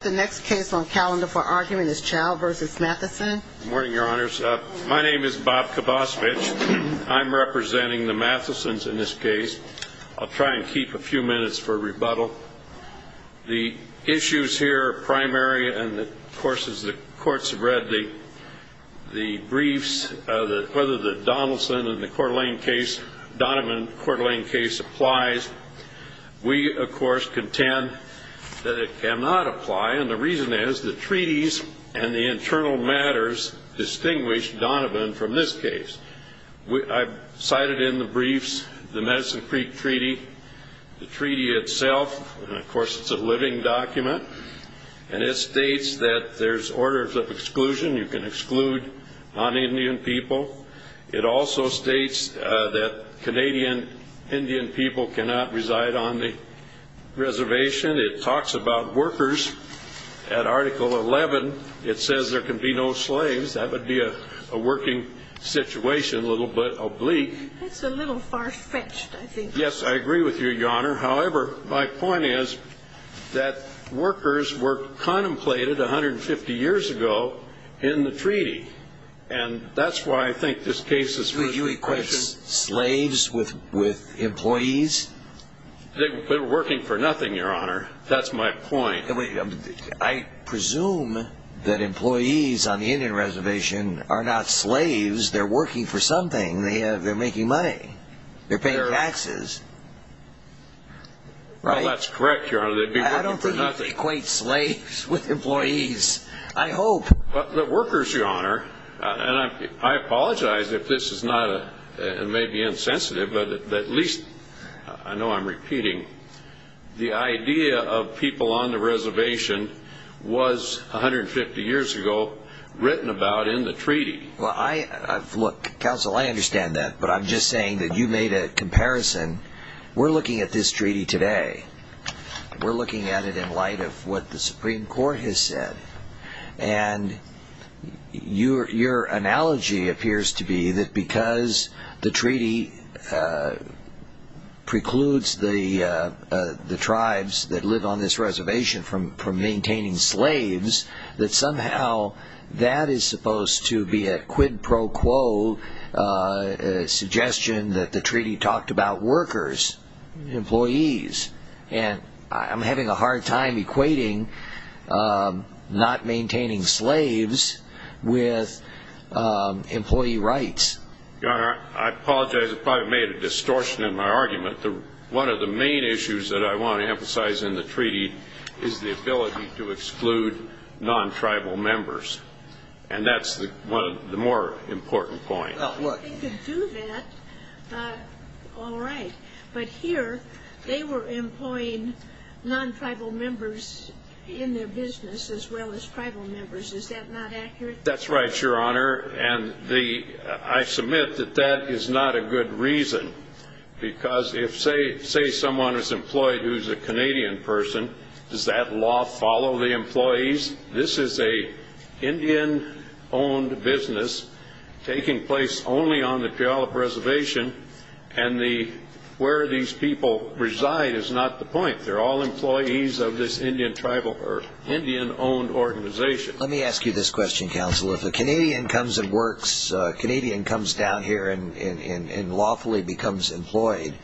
The next case on calendar for argument is Chao v. Matheson. Good morning, Your Honors. My name is Bob Kabosvich. I'm representing the Mathesons in this case. I'll try and keep a few minutes for rebuttal. The issues here are primary, and of course, as the courts have read the briefs, whether the Donaldson and the Coeur d'Alene case, Donovan-Coeur d'Alene case applies, we of course contend that it cannot apply, and the reason is the treaties and the internal matters distinguish Donovan from this case. I've cited in the briefs the Medicine Creek Treaty, the treaty itself, and of course it's a living document, and it states that there's orders of exclusion. You can exclude non-Indian people. It also states that Canadian Indian people cannot reside on the reservation. It talks about workers. At Article 11, it says there can be no slaves. That would be a working situation a little bit oblique. That's a little far-fetched, I think. Yes, I agree with you, Your Honor. However, my point is that workers were contemplated 150 years ago in the treaty, and that's why I think this case is... You equate slaves with employees? They're working for nothing, Your Honor. That's my point. I presume that employees on the Indian reservation are not slaves. They're working for something. They're making money. They're paying taxes. Well, that's correct, Your Honor. They'd be working for nothing. I don't think you equate slaves with employees. I hope. But workers, Your Honor, and I apologize if this is not, it may be insensitive, but at least, I know I'm repeating, the idea of people on the reservation was 150 years ago written about in the treaty. Well, look, counsel, I understand that, but I'm just saying that you made a comparison. We're looking at this treaty today. We're looking at it in light of what the Supreme Court has said. And your analogy appears to be that because the treaty precludes the tribes that live on this reservation from maintaining slaves, that somehow that is supposed to be a quid pro quo suggestion that the treaty talked about workers, employees. And I'm having a hard time equating not maintaining slaves with employee rights. Your Honor, I apologize if I've made a distortion in my argument. But one of the main issues that I want to emphasize in the treaty is the ability to exclude non-tribal members. And that's the more important point. Well, look. If they could do that, all right. But here, they were employing non-tribal members in their business as well as tribal members. Is that not accurate? That's right, Your Honor. And I submit that that is not a good reason. Because if, say, someone is employed who's a Canadian person, does that law follow the employees? This is an Indian-owned business taking place only on the Puyallup Reservation. And where these people reside is not the point. They're all employees of this Indian-owned organization. Let me ask you this question, Counsel. If a Canadian comes and works, a Canadian comes down here and lawfully becomes employed,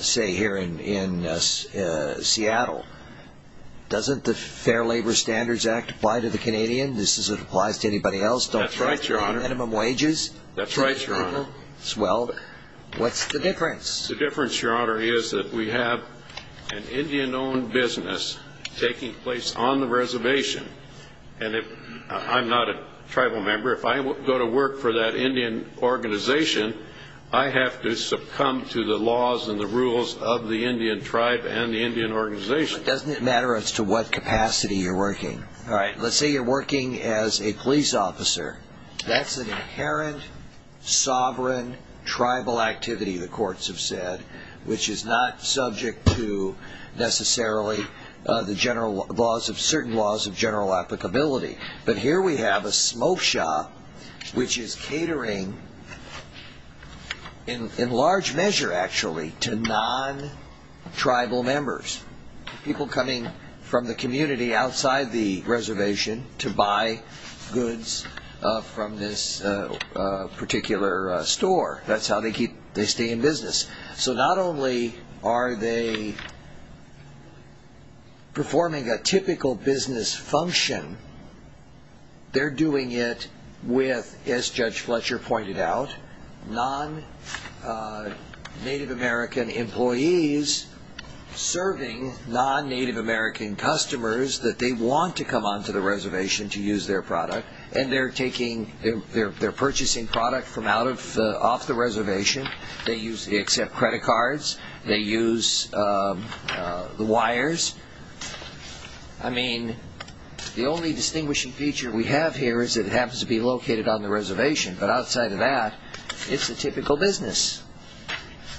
say, here in Seattle, doesn't the Fair Labor Standards Act apply to the Canadian? Does it apply to anybody else? That's right, Your Honor. Don't they pay minimum wages? Well, what's the difference? The difference, Your Honor, is that we have an Indian-owned business taking place on the reservation. And I'm not a tribal member. If I go to work for that Indian organization, I have to succumb to the laws and the rules of the Indian tribe and the Indian organization. But doesn't it matter as to what capacity you're working? All right. Let's say you're working as a police officer. That's an inherent, sovereign, tribal activity, the courts have said, which is not subject to necessarily certain laws of general applicability. But here we have a smoke shop which is catering in large measure, actually, to non-tribal members, people coming from the community outside the reservation to buy goods from this particular store. That's how they stay in business. So not only are they performing a typical business function, they're doing it with, as Judge Fletcher pointed out, non-Native American employees serving non-Native American customers that they want to come onto the reservation to use their product. And they're purchasing product off the reservation. They accept credit cards. They use the wires. I mean, the only distinguishing feature we have here is that it happens to be located on the reservation. But outside of that, it's a typical business.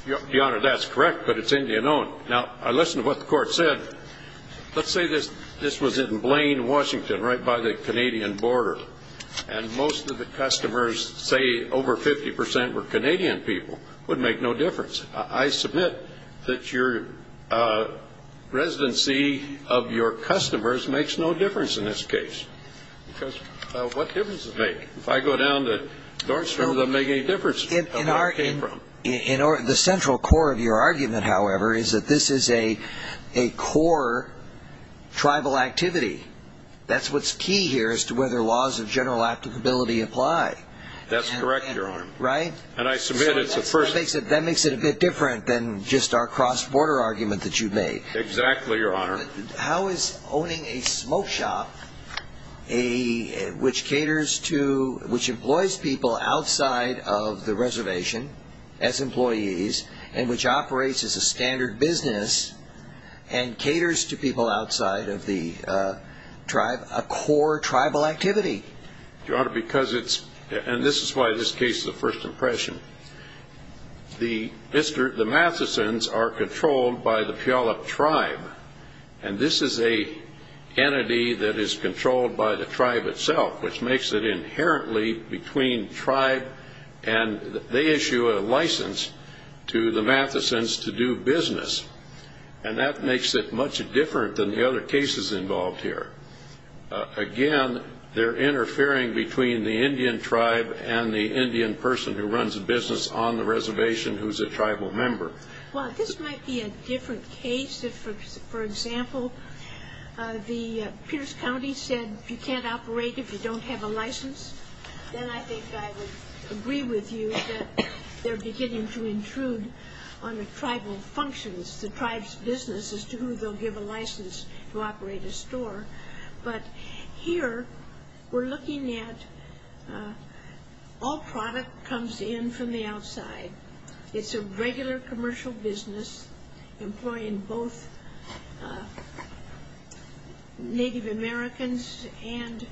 Your Honor, that's correct, but it's Indian-owned. Now, listen to what the court said. Let's say this was in Blaine, Washington, right by the Canadian border. And most of the customers, say over 50 percent, were Canadian people. It wouldn't make no difference. I submit that your residency of your customers makes no difference in this case. Because what difference does it make? If I go down to North Shore, it doesn't make any difference where I came from. The central core of your argument, however, is that this is a core tribal activity. That's what's key here as to whether laws of general applicability apply. That's correct, Your Honor. Right? And I submit it's a first. That makes it a bit different than just our cross-border argument that you made. Exactly, Your Honor. How is owning a smoke shop, which caters to, which employs people outside of the reservation as employees, and which operates as a standard business, and caters to people outside of the tribe, a core tribal activity? Your Honor, because it's, and this is why this case is a first impression, the Mathesons are controlled by the Puyallup tribe. And this is an entity that is controlled by the tribe itself, which makes it inherently between tribe, and they issue a license to the Mathesons to do business. And that makes it much different than the other cases involved here. Again, they're interfering between the Indian tribe and the Indian person who runs a business on the reservation who's a tribal member. Well, this might be a different case. If, for example, the Pierce County said you can't operate if you don't have a license, then I think I would agree with you that they're beginning to intrude on the tribal functions, the tribe's business as to who they'll give a license to operate a store. But here, we're looking at all product comes in from the outside. It's a regular commercial business employing both Native Americans and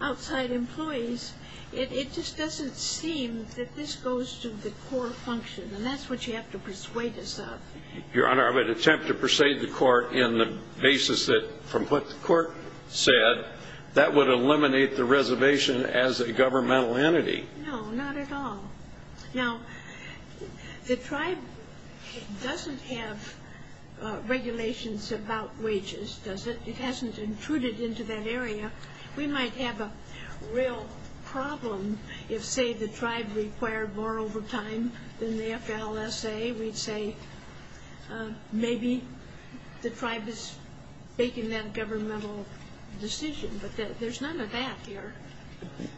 outside employees. It just doesn't seem that this goes to the core function, and that's what you have to persuade us of. Your Honor, I would attempt to persuade the court in the basis that, from what the court said, that would eliminate the reservation as a governmental entity. No, not at all. Now, the tribe doesn't have regulations about wages, does it? It hasn't intruded into that area. We might have a real problem if, say, the tribe required more overtime than the FLSA. We'd say maybe the tribe is making that governmental decision. But there's none of that here.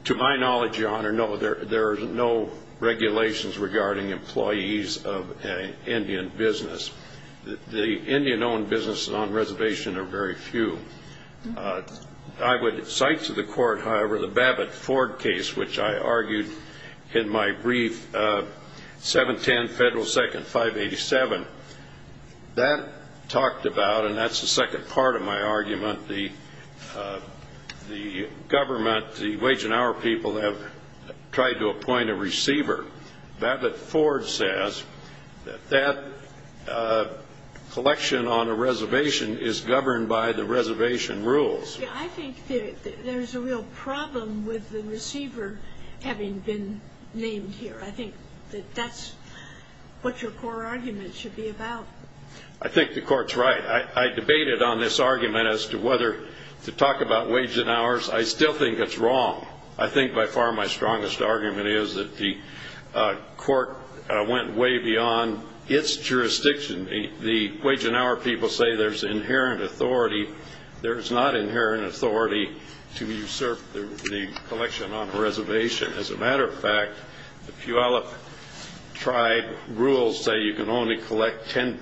To my knowledge, Your Honor, no. There are no regulations regarding employees of an Indian business. The Indian-owned businesses on reservation are very few. I would cite to the court, however, the Babbitt-Ford case, which I argued in my brief, 710 Federal 2nd 587. That talked about, and that's the second part of my argument, the government, the wage and hour people have tried to appoint a receiver. Babbitt-Ford says that that collection on a reservation is governed by the reservation rules. I think there's a real problem with the receiver having been named here. I think that that's what your core argument should be about. I think the court's right. I debated on this argument as to whether to talk about wage and hours. I still think it's wrong. I think by far my strongest argument is that the court went way beyond its jurisdiction. The wage and hour people say there's inherent authority. There is not inherent authority to usurp the collection on a reservation. As a matter of fact, the Puyallup tribe rules say you can only collect 10%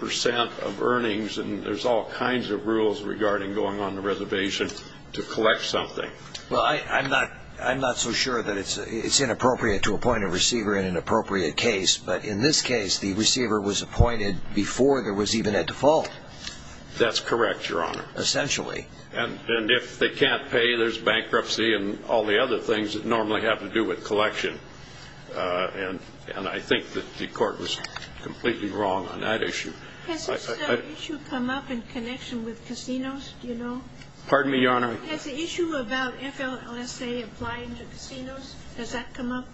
of earnings, and there's all kinds of rules regarding going on the reservation to collect something. Well, I'm not so sure that it's inappropriate to appoint a receiver in an appropriate case, but in this case, the receiver was appointed before there was even a default. That's correct, Your Honor. Essentially. And if they can't pay, there's bankruptcy and all the other things that normally have to do with collection. And I think that the court was completely wrong on that issue. Has this issue come up in connection with casinos, do you know? Pardon me, Your Honor? Has the issue about FLLSA applying to casinos, has that come up?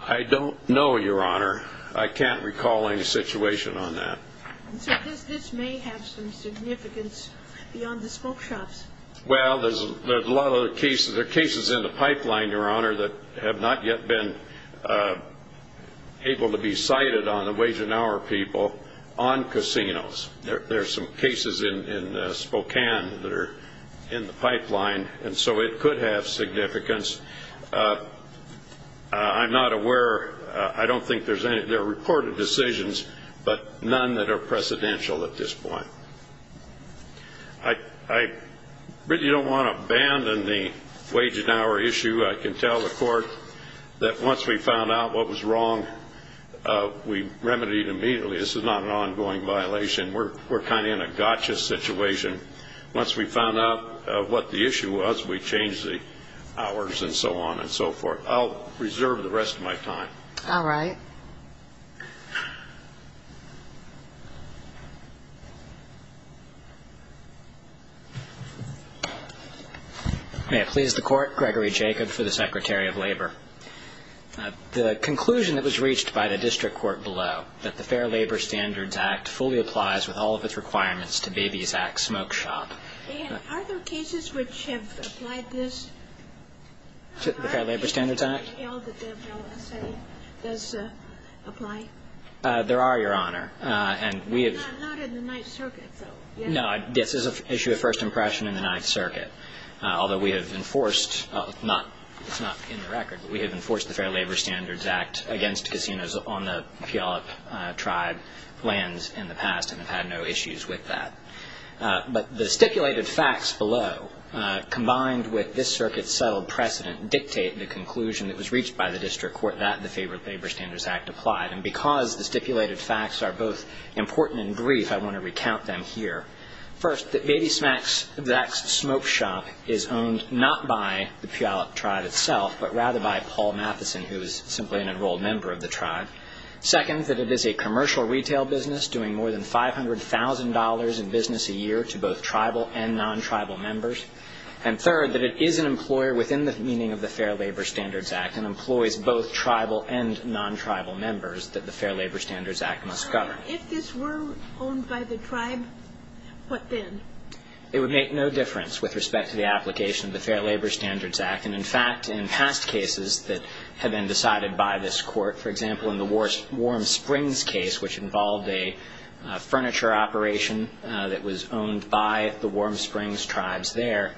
I don't know, Your Honor. I can't recall any situation on that. So this may have some significance beyond the smoke shops. Well, there are cases in the pipeline, Your Honor, that have not yet been able to be cited on the wage and hour people on casinos. There are some cases in Spokane that are in the pipeline, and so it could have significance. I'm not aware. I don't think there's any. There are reported decisions, but none that are precedential at this point. I really don't want to abandon the wage and hour issue. I can tell the court that once we found out what was wrong, we remedied immediately. This is not an ongoing violation. We're kind of in a gotcha situation. Once we found out what the issue was, we changed the hours and so on and so forth. I'll reserve the rest of my time. All right. May it please the Court, Gregory Jacob for the Secretary of Labor. The conclusion that was reached by the district court below, that the Fair Labor Standards Act fully applies with all of its requirements to Baby's Act smoke shop. Are there cases which have applied this? The Fair Labor Standards Act? Does it apply? There are, Your Honor. Not in the Ninth Circuit, though. No. This is an issue of first impression in the Ninth Circuit, although we have enforced, it's not in the record, but we have enforced the Fair Labor Standards Act against casinos on the Puyallup tribe lands in the past and have had no issues with that. But the stipulated facts below, combined with this circuit's settled precedent, dictate the conclusion that was reached by the district court that the Favor of Labor Standards Act applied. And because the stipulated facts are both important and brief, I want to recount them here. First, that Baby's Act smoke shop is owned not by the Puyallup tribe itself, but rather by Paul Matheson, who is simply an enrolled member of the tribe. Second, that it is a commercial retail business, doing more than $500,000 in business a year to both tribal and non-tribal members. And third, that it is an employer within the meaning of the Fair Labor Standards Act and employs both tribal and non-tribal members that the Fair Labor Standards Act must govern. If this were owned by the tribe, what then? It would make no difference with respect to the application of the Fair Labor Standards Act. And in fact, in past cases that have been decided by this court, for example, in the Warm Springs case, which involved a furniture operation that was owned by the Warm Springs tribes there,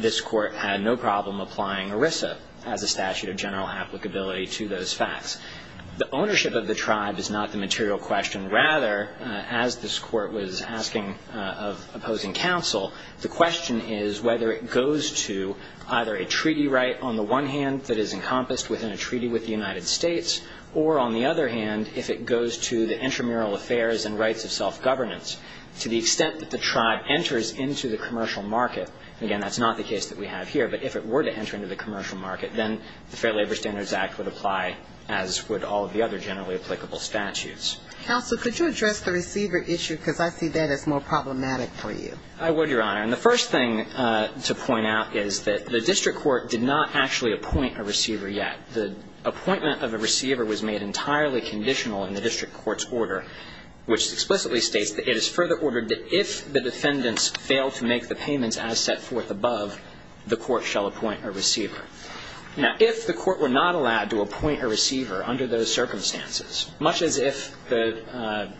this court had no problem applying ERISA as a statute of general applicability to those facts. The ownership of the tribe is not the material question. Rather, as this court was asking of opposing counsel, the question is whether it goes to either a treaty right on the one hand that is encompassed within a treaty with the United States, or, on the other hand, if it goes to the intramural affairs and rights of self-governance. To the extent that the tribe enters into the commercial market, and again, that's not the case that we have here, but if it were to enter into the commercial market, then the Fair Labor Standards Act would apply as would all of the other generally applicable statutes. Counsel, could you address the receiver issue? Because I see that as more problematic for you. I would, Your Honor. And the first thing to point out is that the district court did not actually appoint a receiver yet. The appointment of a receiver was made entirely conditional in the district court's order, which explicitly states that it is further ordered that if the defendants fail to make the payments as set forth above, the court shall appoint a receiver. Now, if the court were not allowed to appoint a receiver under those circumstances, much as if their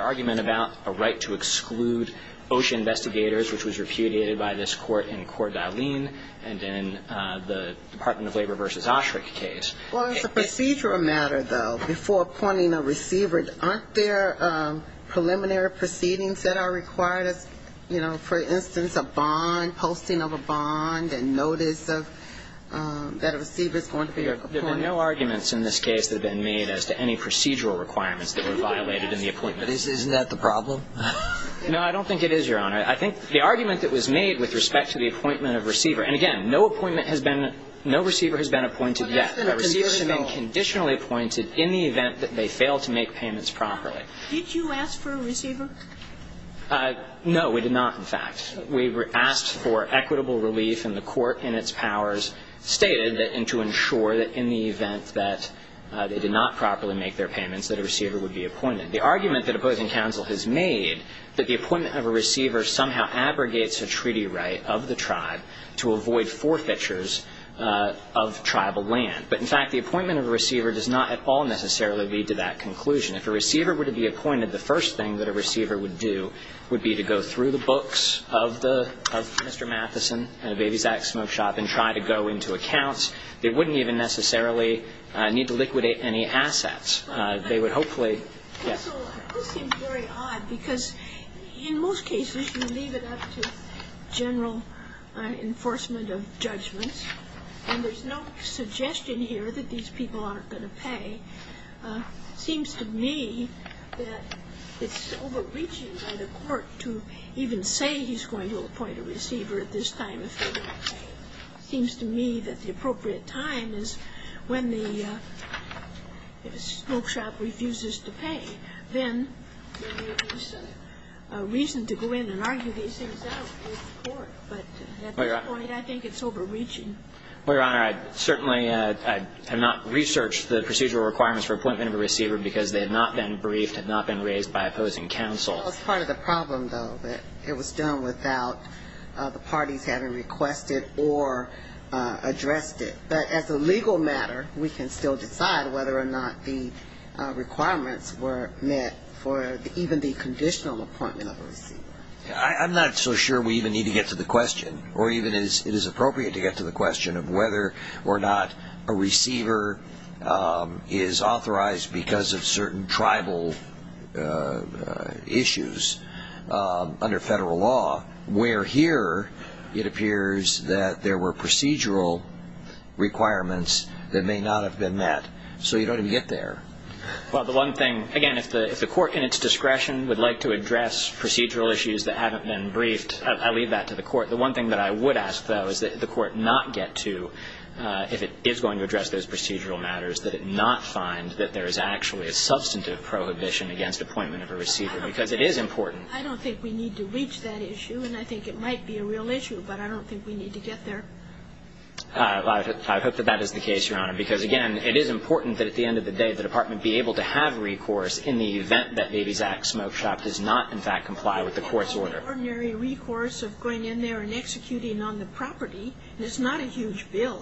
argument about a right to exclude OSHA investigators, which was repudiated by this court in Corte D'Alene and in the Department of Labor v. Osherick case... Well, as a procedural matter, though, before appointing a receiver, aren't there preliminary proceedings that are required? You know, for instance, a bond, a posting of a bond, a notice that a receiver is going to be appointed. There have been no arguments in this case that have been made as to any procedural requirements that were violated in the appointment. Isn't that the problem? No, I don't think it is, Your Honor. I think the argument that was made with respect to the appointment of a receiver... And again, no receiver has been appointed yet. A receiver has been conditionally appointed in the event that they fail to make payments properly. Did you ask for a receiver? No, we did not, in fact. We asked for equitable relief and the court in its powers stated and to ensure that in the event that they did not properly make their payments, that a receiver would be appointed. The argument that opposing counsel has made that the appointment of a receiver somehow abrogates a treaty right of the tribe to avoid forfeitures of tribal land. But in fact, the appointment of a receiver does not at all necessarily lead to that conclusion. If a receiver were to be appointed, the first thing that a receiver would do would be to go through the books of Mr. Matheson at a Babysack Smoke Shop and try to go into accounts. They wouldn't even necessarily need to liquidate any assets. They would hopefully... This seems very odd because in most cases you leave it up to general enforcement of judgments and there's no suggestion here that these people aren't going to pay. It seems to me that it's overreaching by the court to even say he's going to appoint a receiver at this time if they don't pay. It seems to me that the appropriate time is when the smoke shop refuses to pay. Then there is reason to go in and argue these things out with the court, but at this point I think it's overreaching. Your Honor, I certainly have not researched the procedural requirements for appointment of a receiver because they have not been briefed, have not been raised by opposing counsel. It was done without the parties having requested or addressed it. But as a legal matter we can still decide whether or not the requirements were met for even the conditional appointment of a receiver. I'm not so sure we even need to get to the question or even it is appropriate to get to the question of whether or not a receiver is authorized because of certain tribal issues under federal law where here it appears that there were procedural requirements that may not have been met. So you don't even get there. Again, if the court in its discretion would like to address procedural issues that haven't been briefed, I leave that to the court. The one thing that I would ask, though, is that the court not get to if it is going to address those procedural matters that it not find that there is actually a substantive prohibition against appointment of a receiver because it is important. I don't think we need to reach that issue and I think it might be a real issue, but I don't think we need to get there. I hope that that is the case, Your Honor, because, again, it is important that at the end of the day the Department be able to have recourse in the event that Baby Zak Smoke Shop does not, in fact, comply with the court's order. The ordinary recourse of going in there and executing on the property is not a huge bill.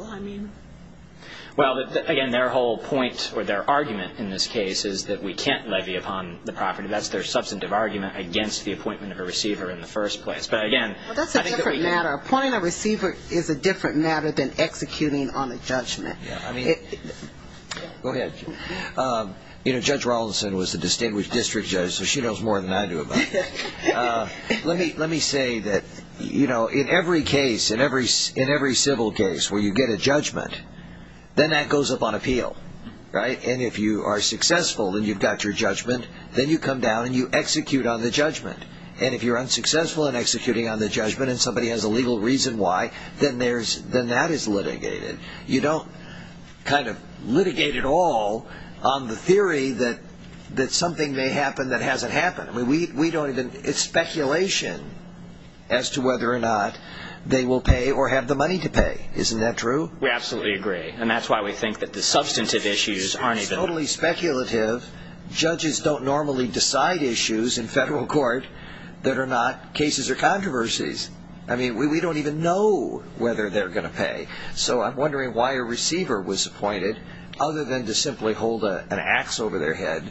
Well, again, their whole point or their argument in this case is that we can't levy upon the property. That is their substantive argument against the appointment of a receiver in the first place. That is a different matter. Appointing a receiver is a different matter than executing on a judgment. Go ahead. Judge Rollinson was the distinguished district judge, so she knows more than I do about that. Let me say that in every case, in every civil case where you get a judgment, then that goes up on appeal. If you are successful and you've got your judgment, then you come down and you execute on the judgment. If you're unsuccessful in executing on the judgment and somebody has a legal reason why, then that is litigated. You don't kind of litigate it all on the theory that something may happen that hasn't happened. It's speculation as to whether or not they will pay or have the money to pay. Isn't that true? We absolutely agree. It's totally speculative. Judges don't normally decide issues in federal court that are not cases or controversies. We don't even know whether they're going to pay. I'm wondering why a receiver was appointed other than to simply hold an axe over their head.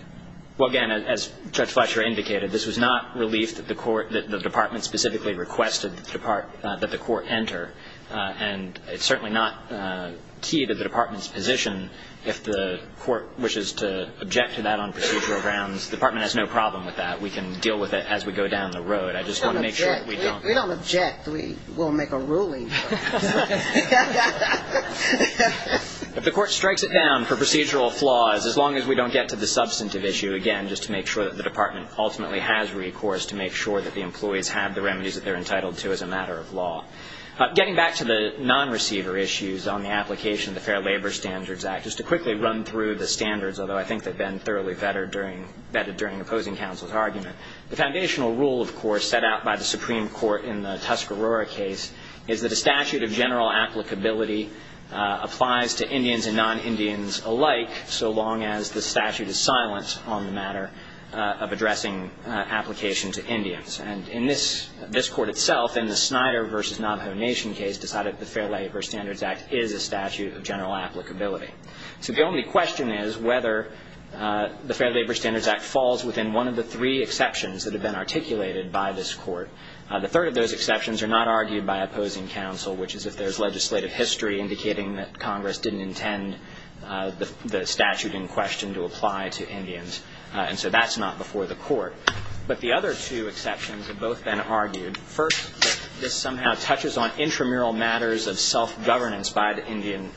As Judge Fletcher indicated, this was not relief that the department specifically requested that the court enter. It's certainly not key to the department's position if the court wishes to object to that on procedural grounds. The department has no problem with that. We can deal with it as we go down the road. We don't object. We'll make a ruling. If the court strikes it down for procedural flaws, as long as we don't get to the substantive issue, just to make sure that the department ultimately has recourse to make sure that the employees have the remedies that they're entitled to as a matter of law. Getting back to the non-receiver issues on the application of the Fair Labor Standards Act, just to quickly run through the standards, although I think they've been thoroughly vetted during opposing counsel's argument. The foundational rule, of course, set out by the Supreme Court in the Tuscarora case, is that a statute of general applicability applies to Indians and non-Indians alike so long as the statute is silent on the matter of addressing application to Indians. And in this court itself, in the Snyder v. Navajo Nation case, decided that the Fair Labor Standards Act is a statute of general applicability. So the only question is whether the Fair Labor Standards Act falls within one of the three exceptions that have been articulated by this court. The third of those exceptions are not argued by opposing counsel, which is if there's legislative history indicating that Congress didn't intend the statute in question to apply to Indians. And so that's not before the court. But the other two exceptions have both been argued. First, this somehow touches on intramural matters of self-governance by the Indian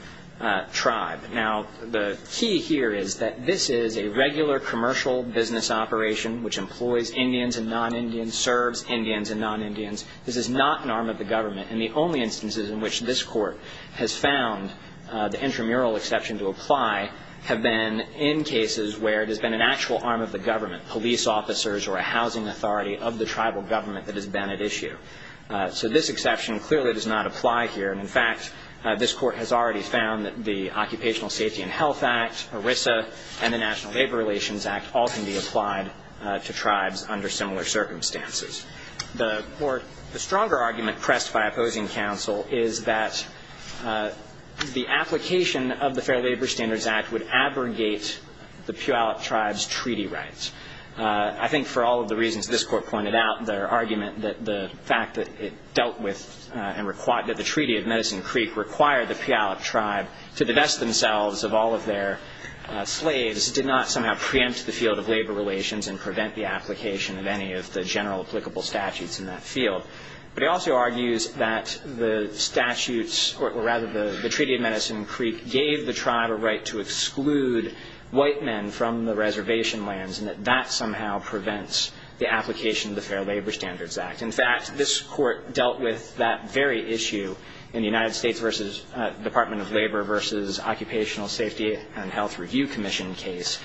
tribe. Now, the key here is that this is a regular commercial business operation which employs Indians and non-Indians, serves Indians and non-Indians. This is not an arm of the government. And the only instances in which this court has found the intramural exception to apply have been in cases where it has been an actual arm of the government, police officers or a housing authority of the tribal government that has been at issue. So this exception clearly does not apply here. In fact, this court has already found that the Occupational Safety and Health Act, ERISA, and the National Labor Relations Act all can be applied to tribes under similar circumstances. The stronger argument pressed by opposing counsel is that the application of the Fair Labor Standards Act would abrogate the Puyallup tribe's treaty rights. I think for all of the reasons this court pointed out in their argument that the fact that it dealt with and that the Treaty of Medicine Creek required the Puyallup tribe to divest themselves of all of their slaves did not somehow preempt the field of labor relations and prevent the application of any of the general applicable statutes in that field. But it also argues that the Treaty of Medicine Creek gave the tribe a right to exclude white men from the reservation lands and that that somehow prevents the application of the Fair Labor Standards Act. In fact, this court dealt with that very issue in the United States Department of Labor versus Occupational Safety and Health Review Commission case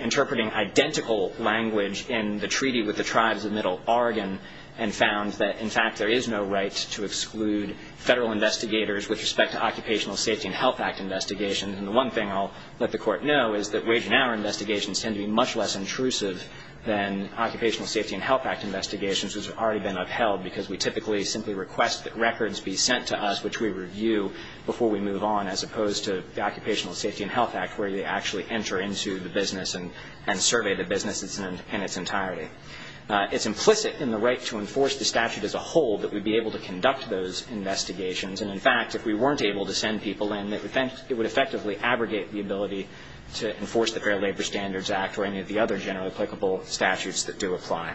interpreting identical language in the treaty with the tribes of Oregon and found that, in fact, there is no right to exclude federal investigators with respect to Occupational Safety and Health Act investigations. And the one thing I'll let the court know is that wage and hour investigations tend to be much less intrusive than Occupational Safety and Health Act investigations, which have already been upheld because we typically simply request that records be sent to us, which we review, before we move on, as opposed to the Occupational Safety and Health Act, where they actually enter into the business and survey the business in its entirety. It's implicit in the right to enforce the statute as a whole that we'd be able to conduct those investigations. And, in fact, if we weren't able to send people in, it would effectively abrogate the ability to enforce the Fair Labor Standards Act or any of the other generally applicable statutes that do apply.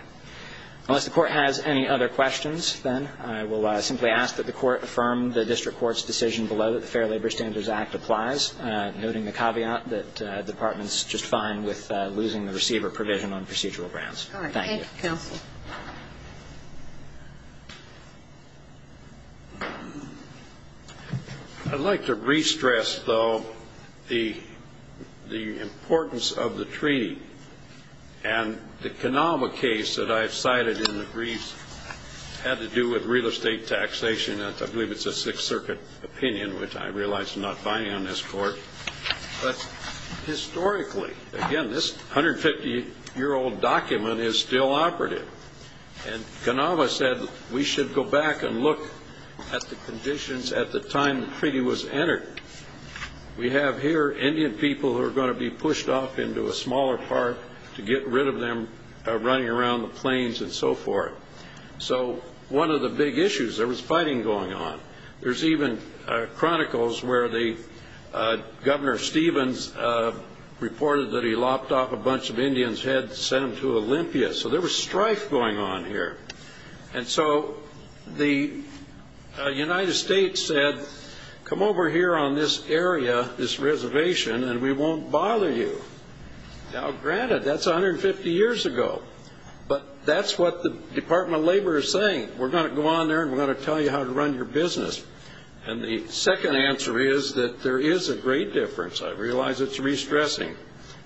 Unless the court has any other questions, then, I will simply ask that the court affirm the district court's decision below that the Fair Labor Standards Act applies, noting the caveat that the Department's just fine with that. Thank you. I'd like to re-stress, though, the importance of the treaty. And the Kanauma case that I've cited in the brief had to do with real estate taxation. I believe it's a Sixth Circuit opinion, which I realize I'm not finding on this court. Historically, again, this 150-year-old document is still operative. And Kanauma said we should go back and look at the conditions at the time the treaty was entered. We have here Indian people who are going to be pushed off into a smaller park to get rid of them running around the plains and so forth. So, one of the big issues, there was fighting going on. There's even chronicles where the Governor Stevens reported that he lopped off a bunch of Indians' heads and sent them to Olympia. So there was strife going on here. And so the United States said, come over here on this area, this reservation, and we won't bother you. Now, granted, that's 150 years ago. But that's what the Department of Labor is saying. We're going to go on there and we're going to tell you how to run your business. And the second answer is that there is a great difference, I realize it's re-stressing,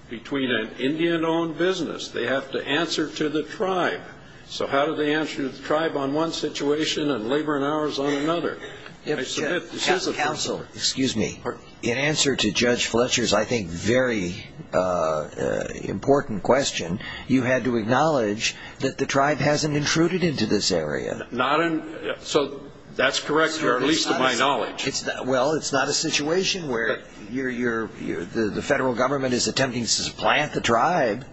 between an Indian-owned business. They have to answer to the tribe. So how do they answer to the tribe on one situation and Labor and Ours on another? I submit this is a... Excuse me. In answer to Judge Fletcher's, I think, very important question, you had to acknowledge that the tribe hasn't intruded into this area. That's correct, or at least to my knowledge. Well, it's not a situation where the federal government is attempting to supplant the tribe.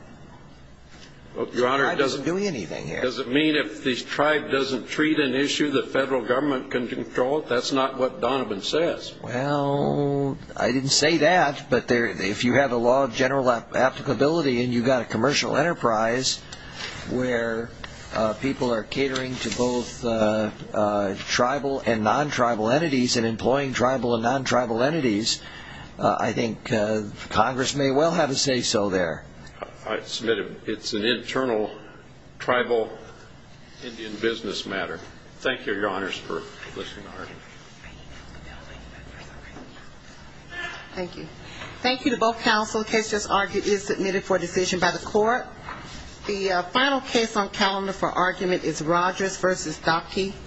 The tribe doesn't do anything here. Does it mean if the tribe doesn't treat an issue the federal government can control it? That's not what Donovan says. Well, I didn't say that, but if you have a law of general applicability and you've got a commercial enterprise where people are catering to both tribal and non-tribal entities and employing tribal and non-tribal entities, I think Congress may well have a say so there. I submit it's an internal tribal Indian business matter. Thank you, Your Honors, for listening to the argument. Thank you. Thank you. Thank you to both counsel. The case just argued is submitted for decision by the court. The final case on calendar for argument is Rogers v. Dahlke.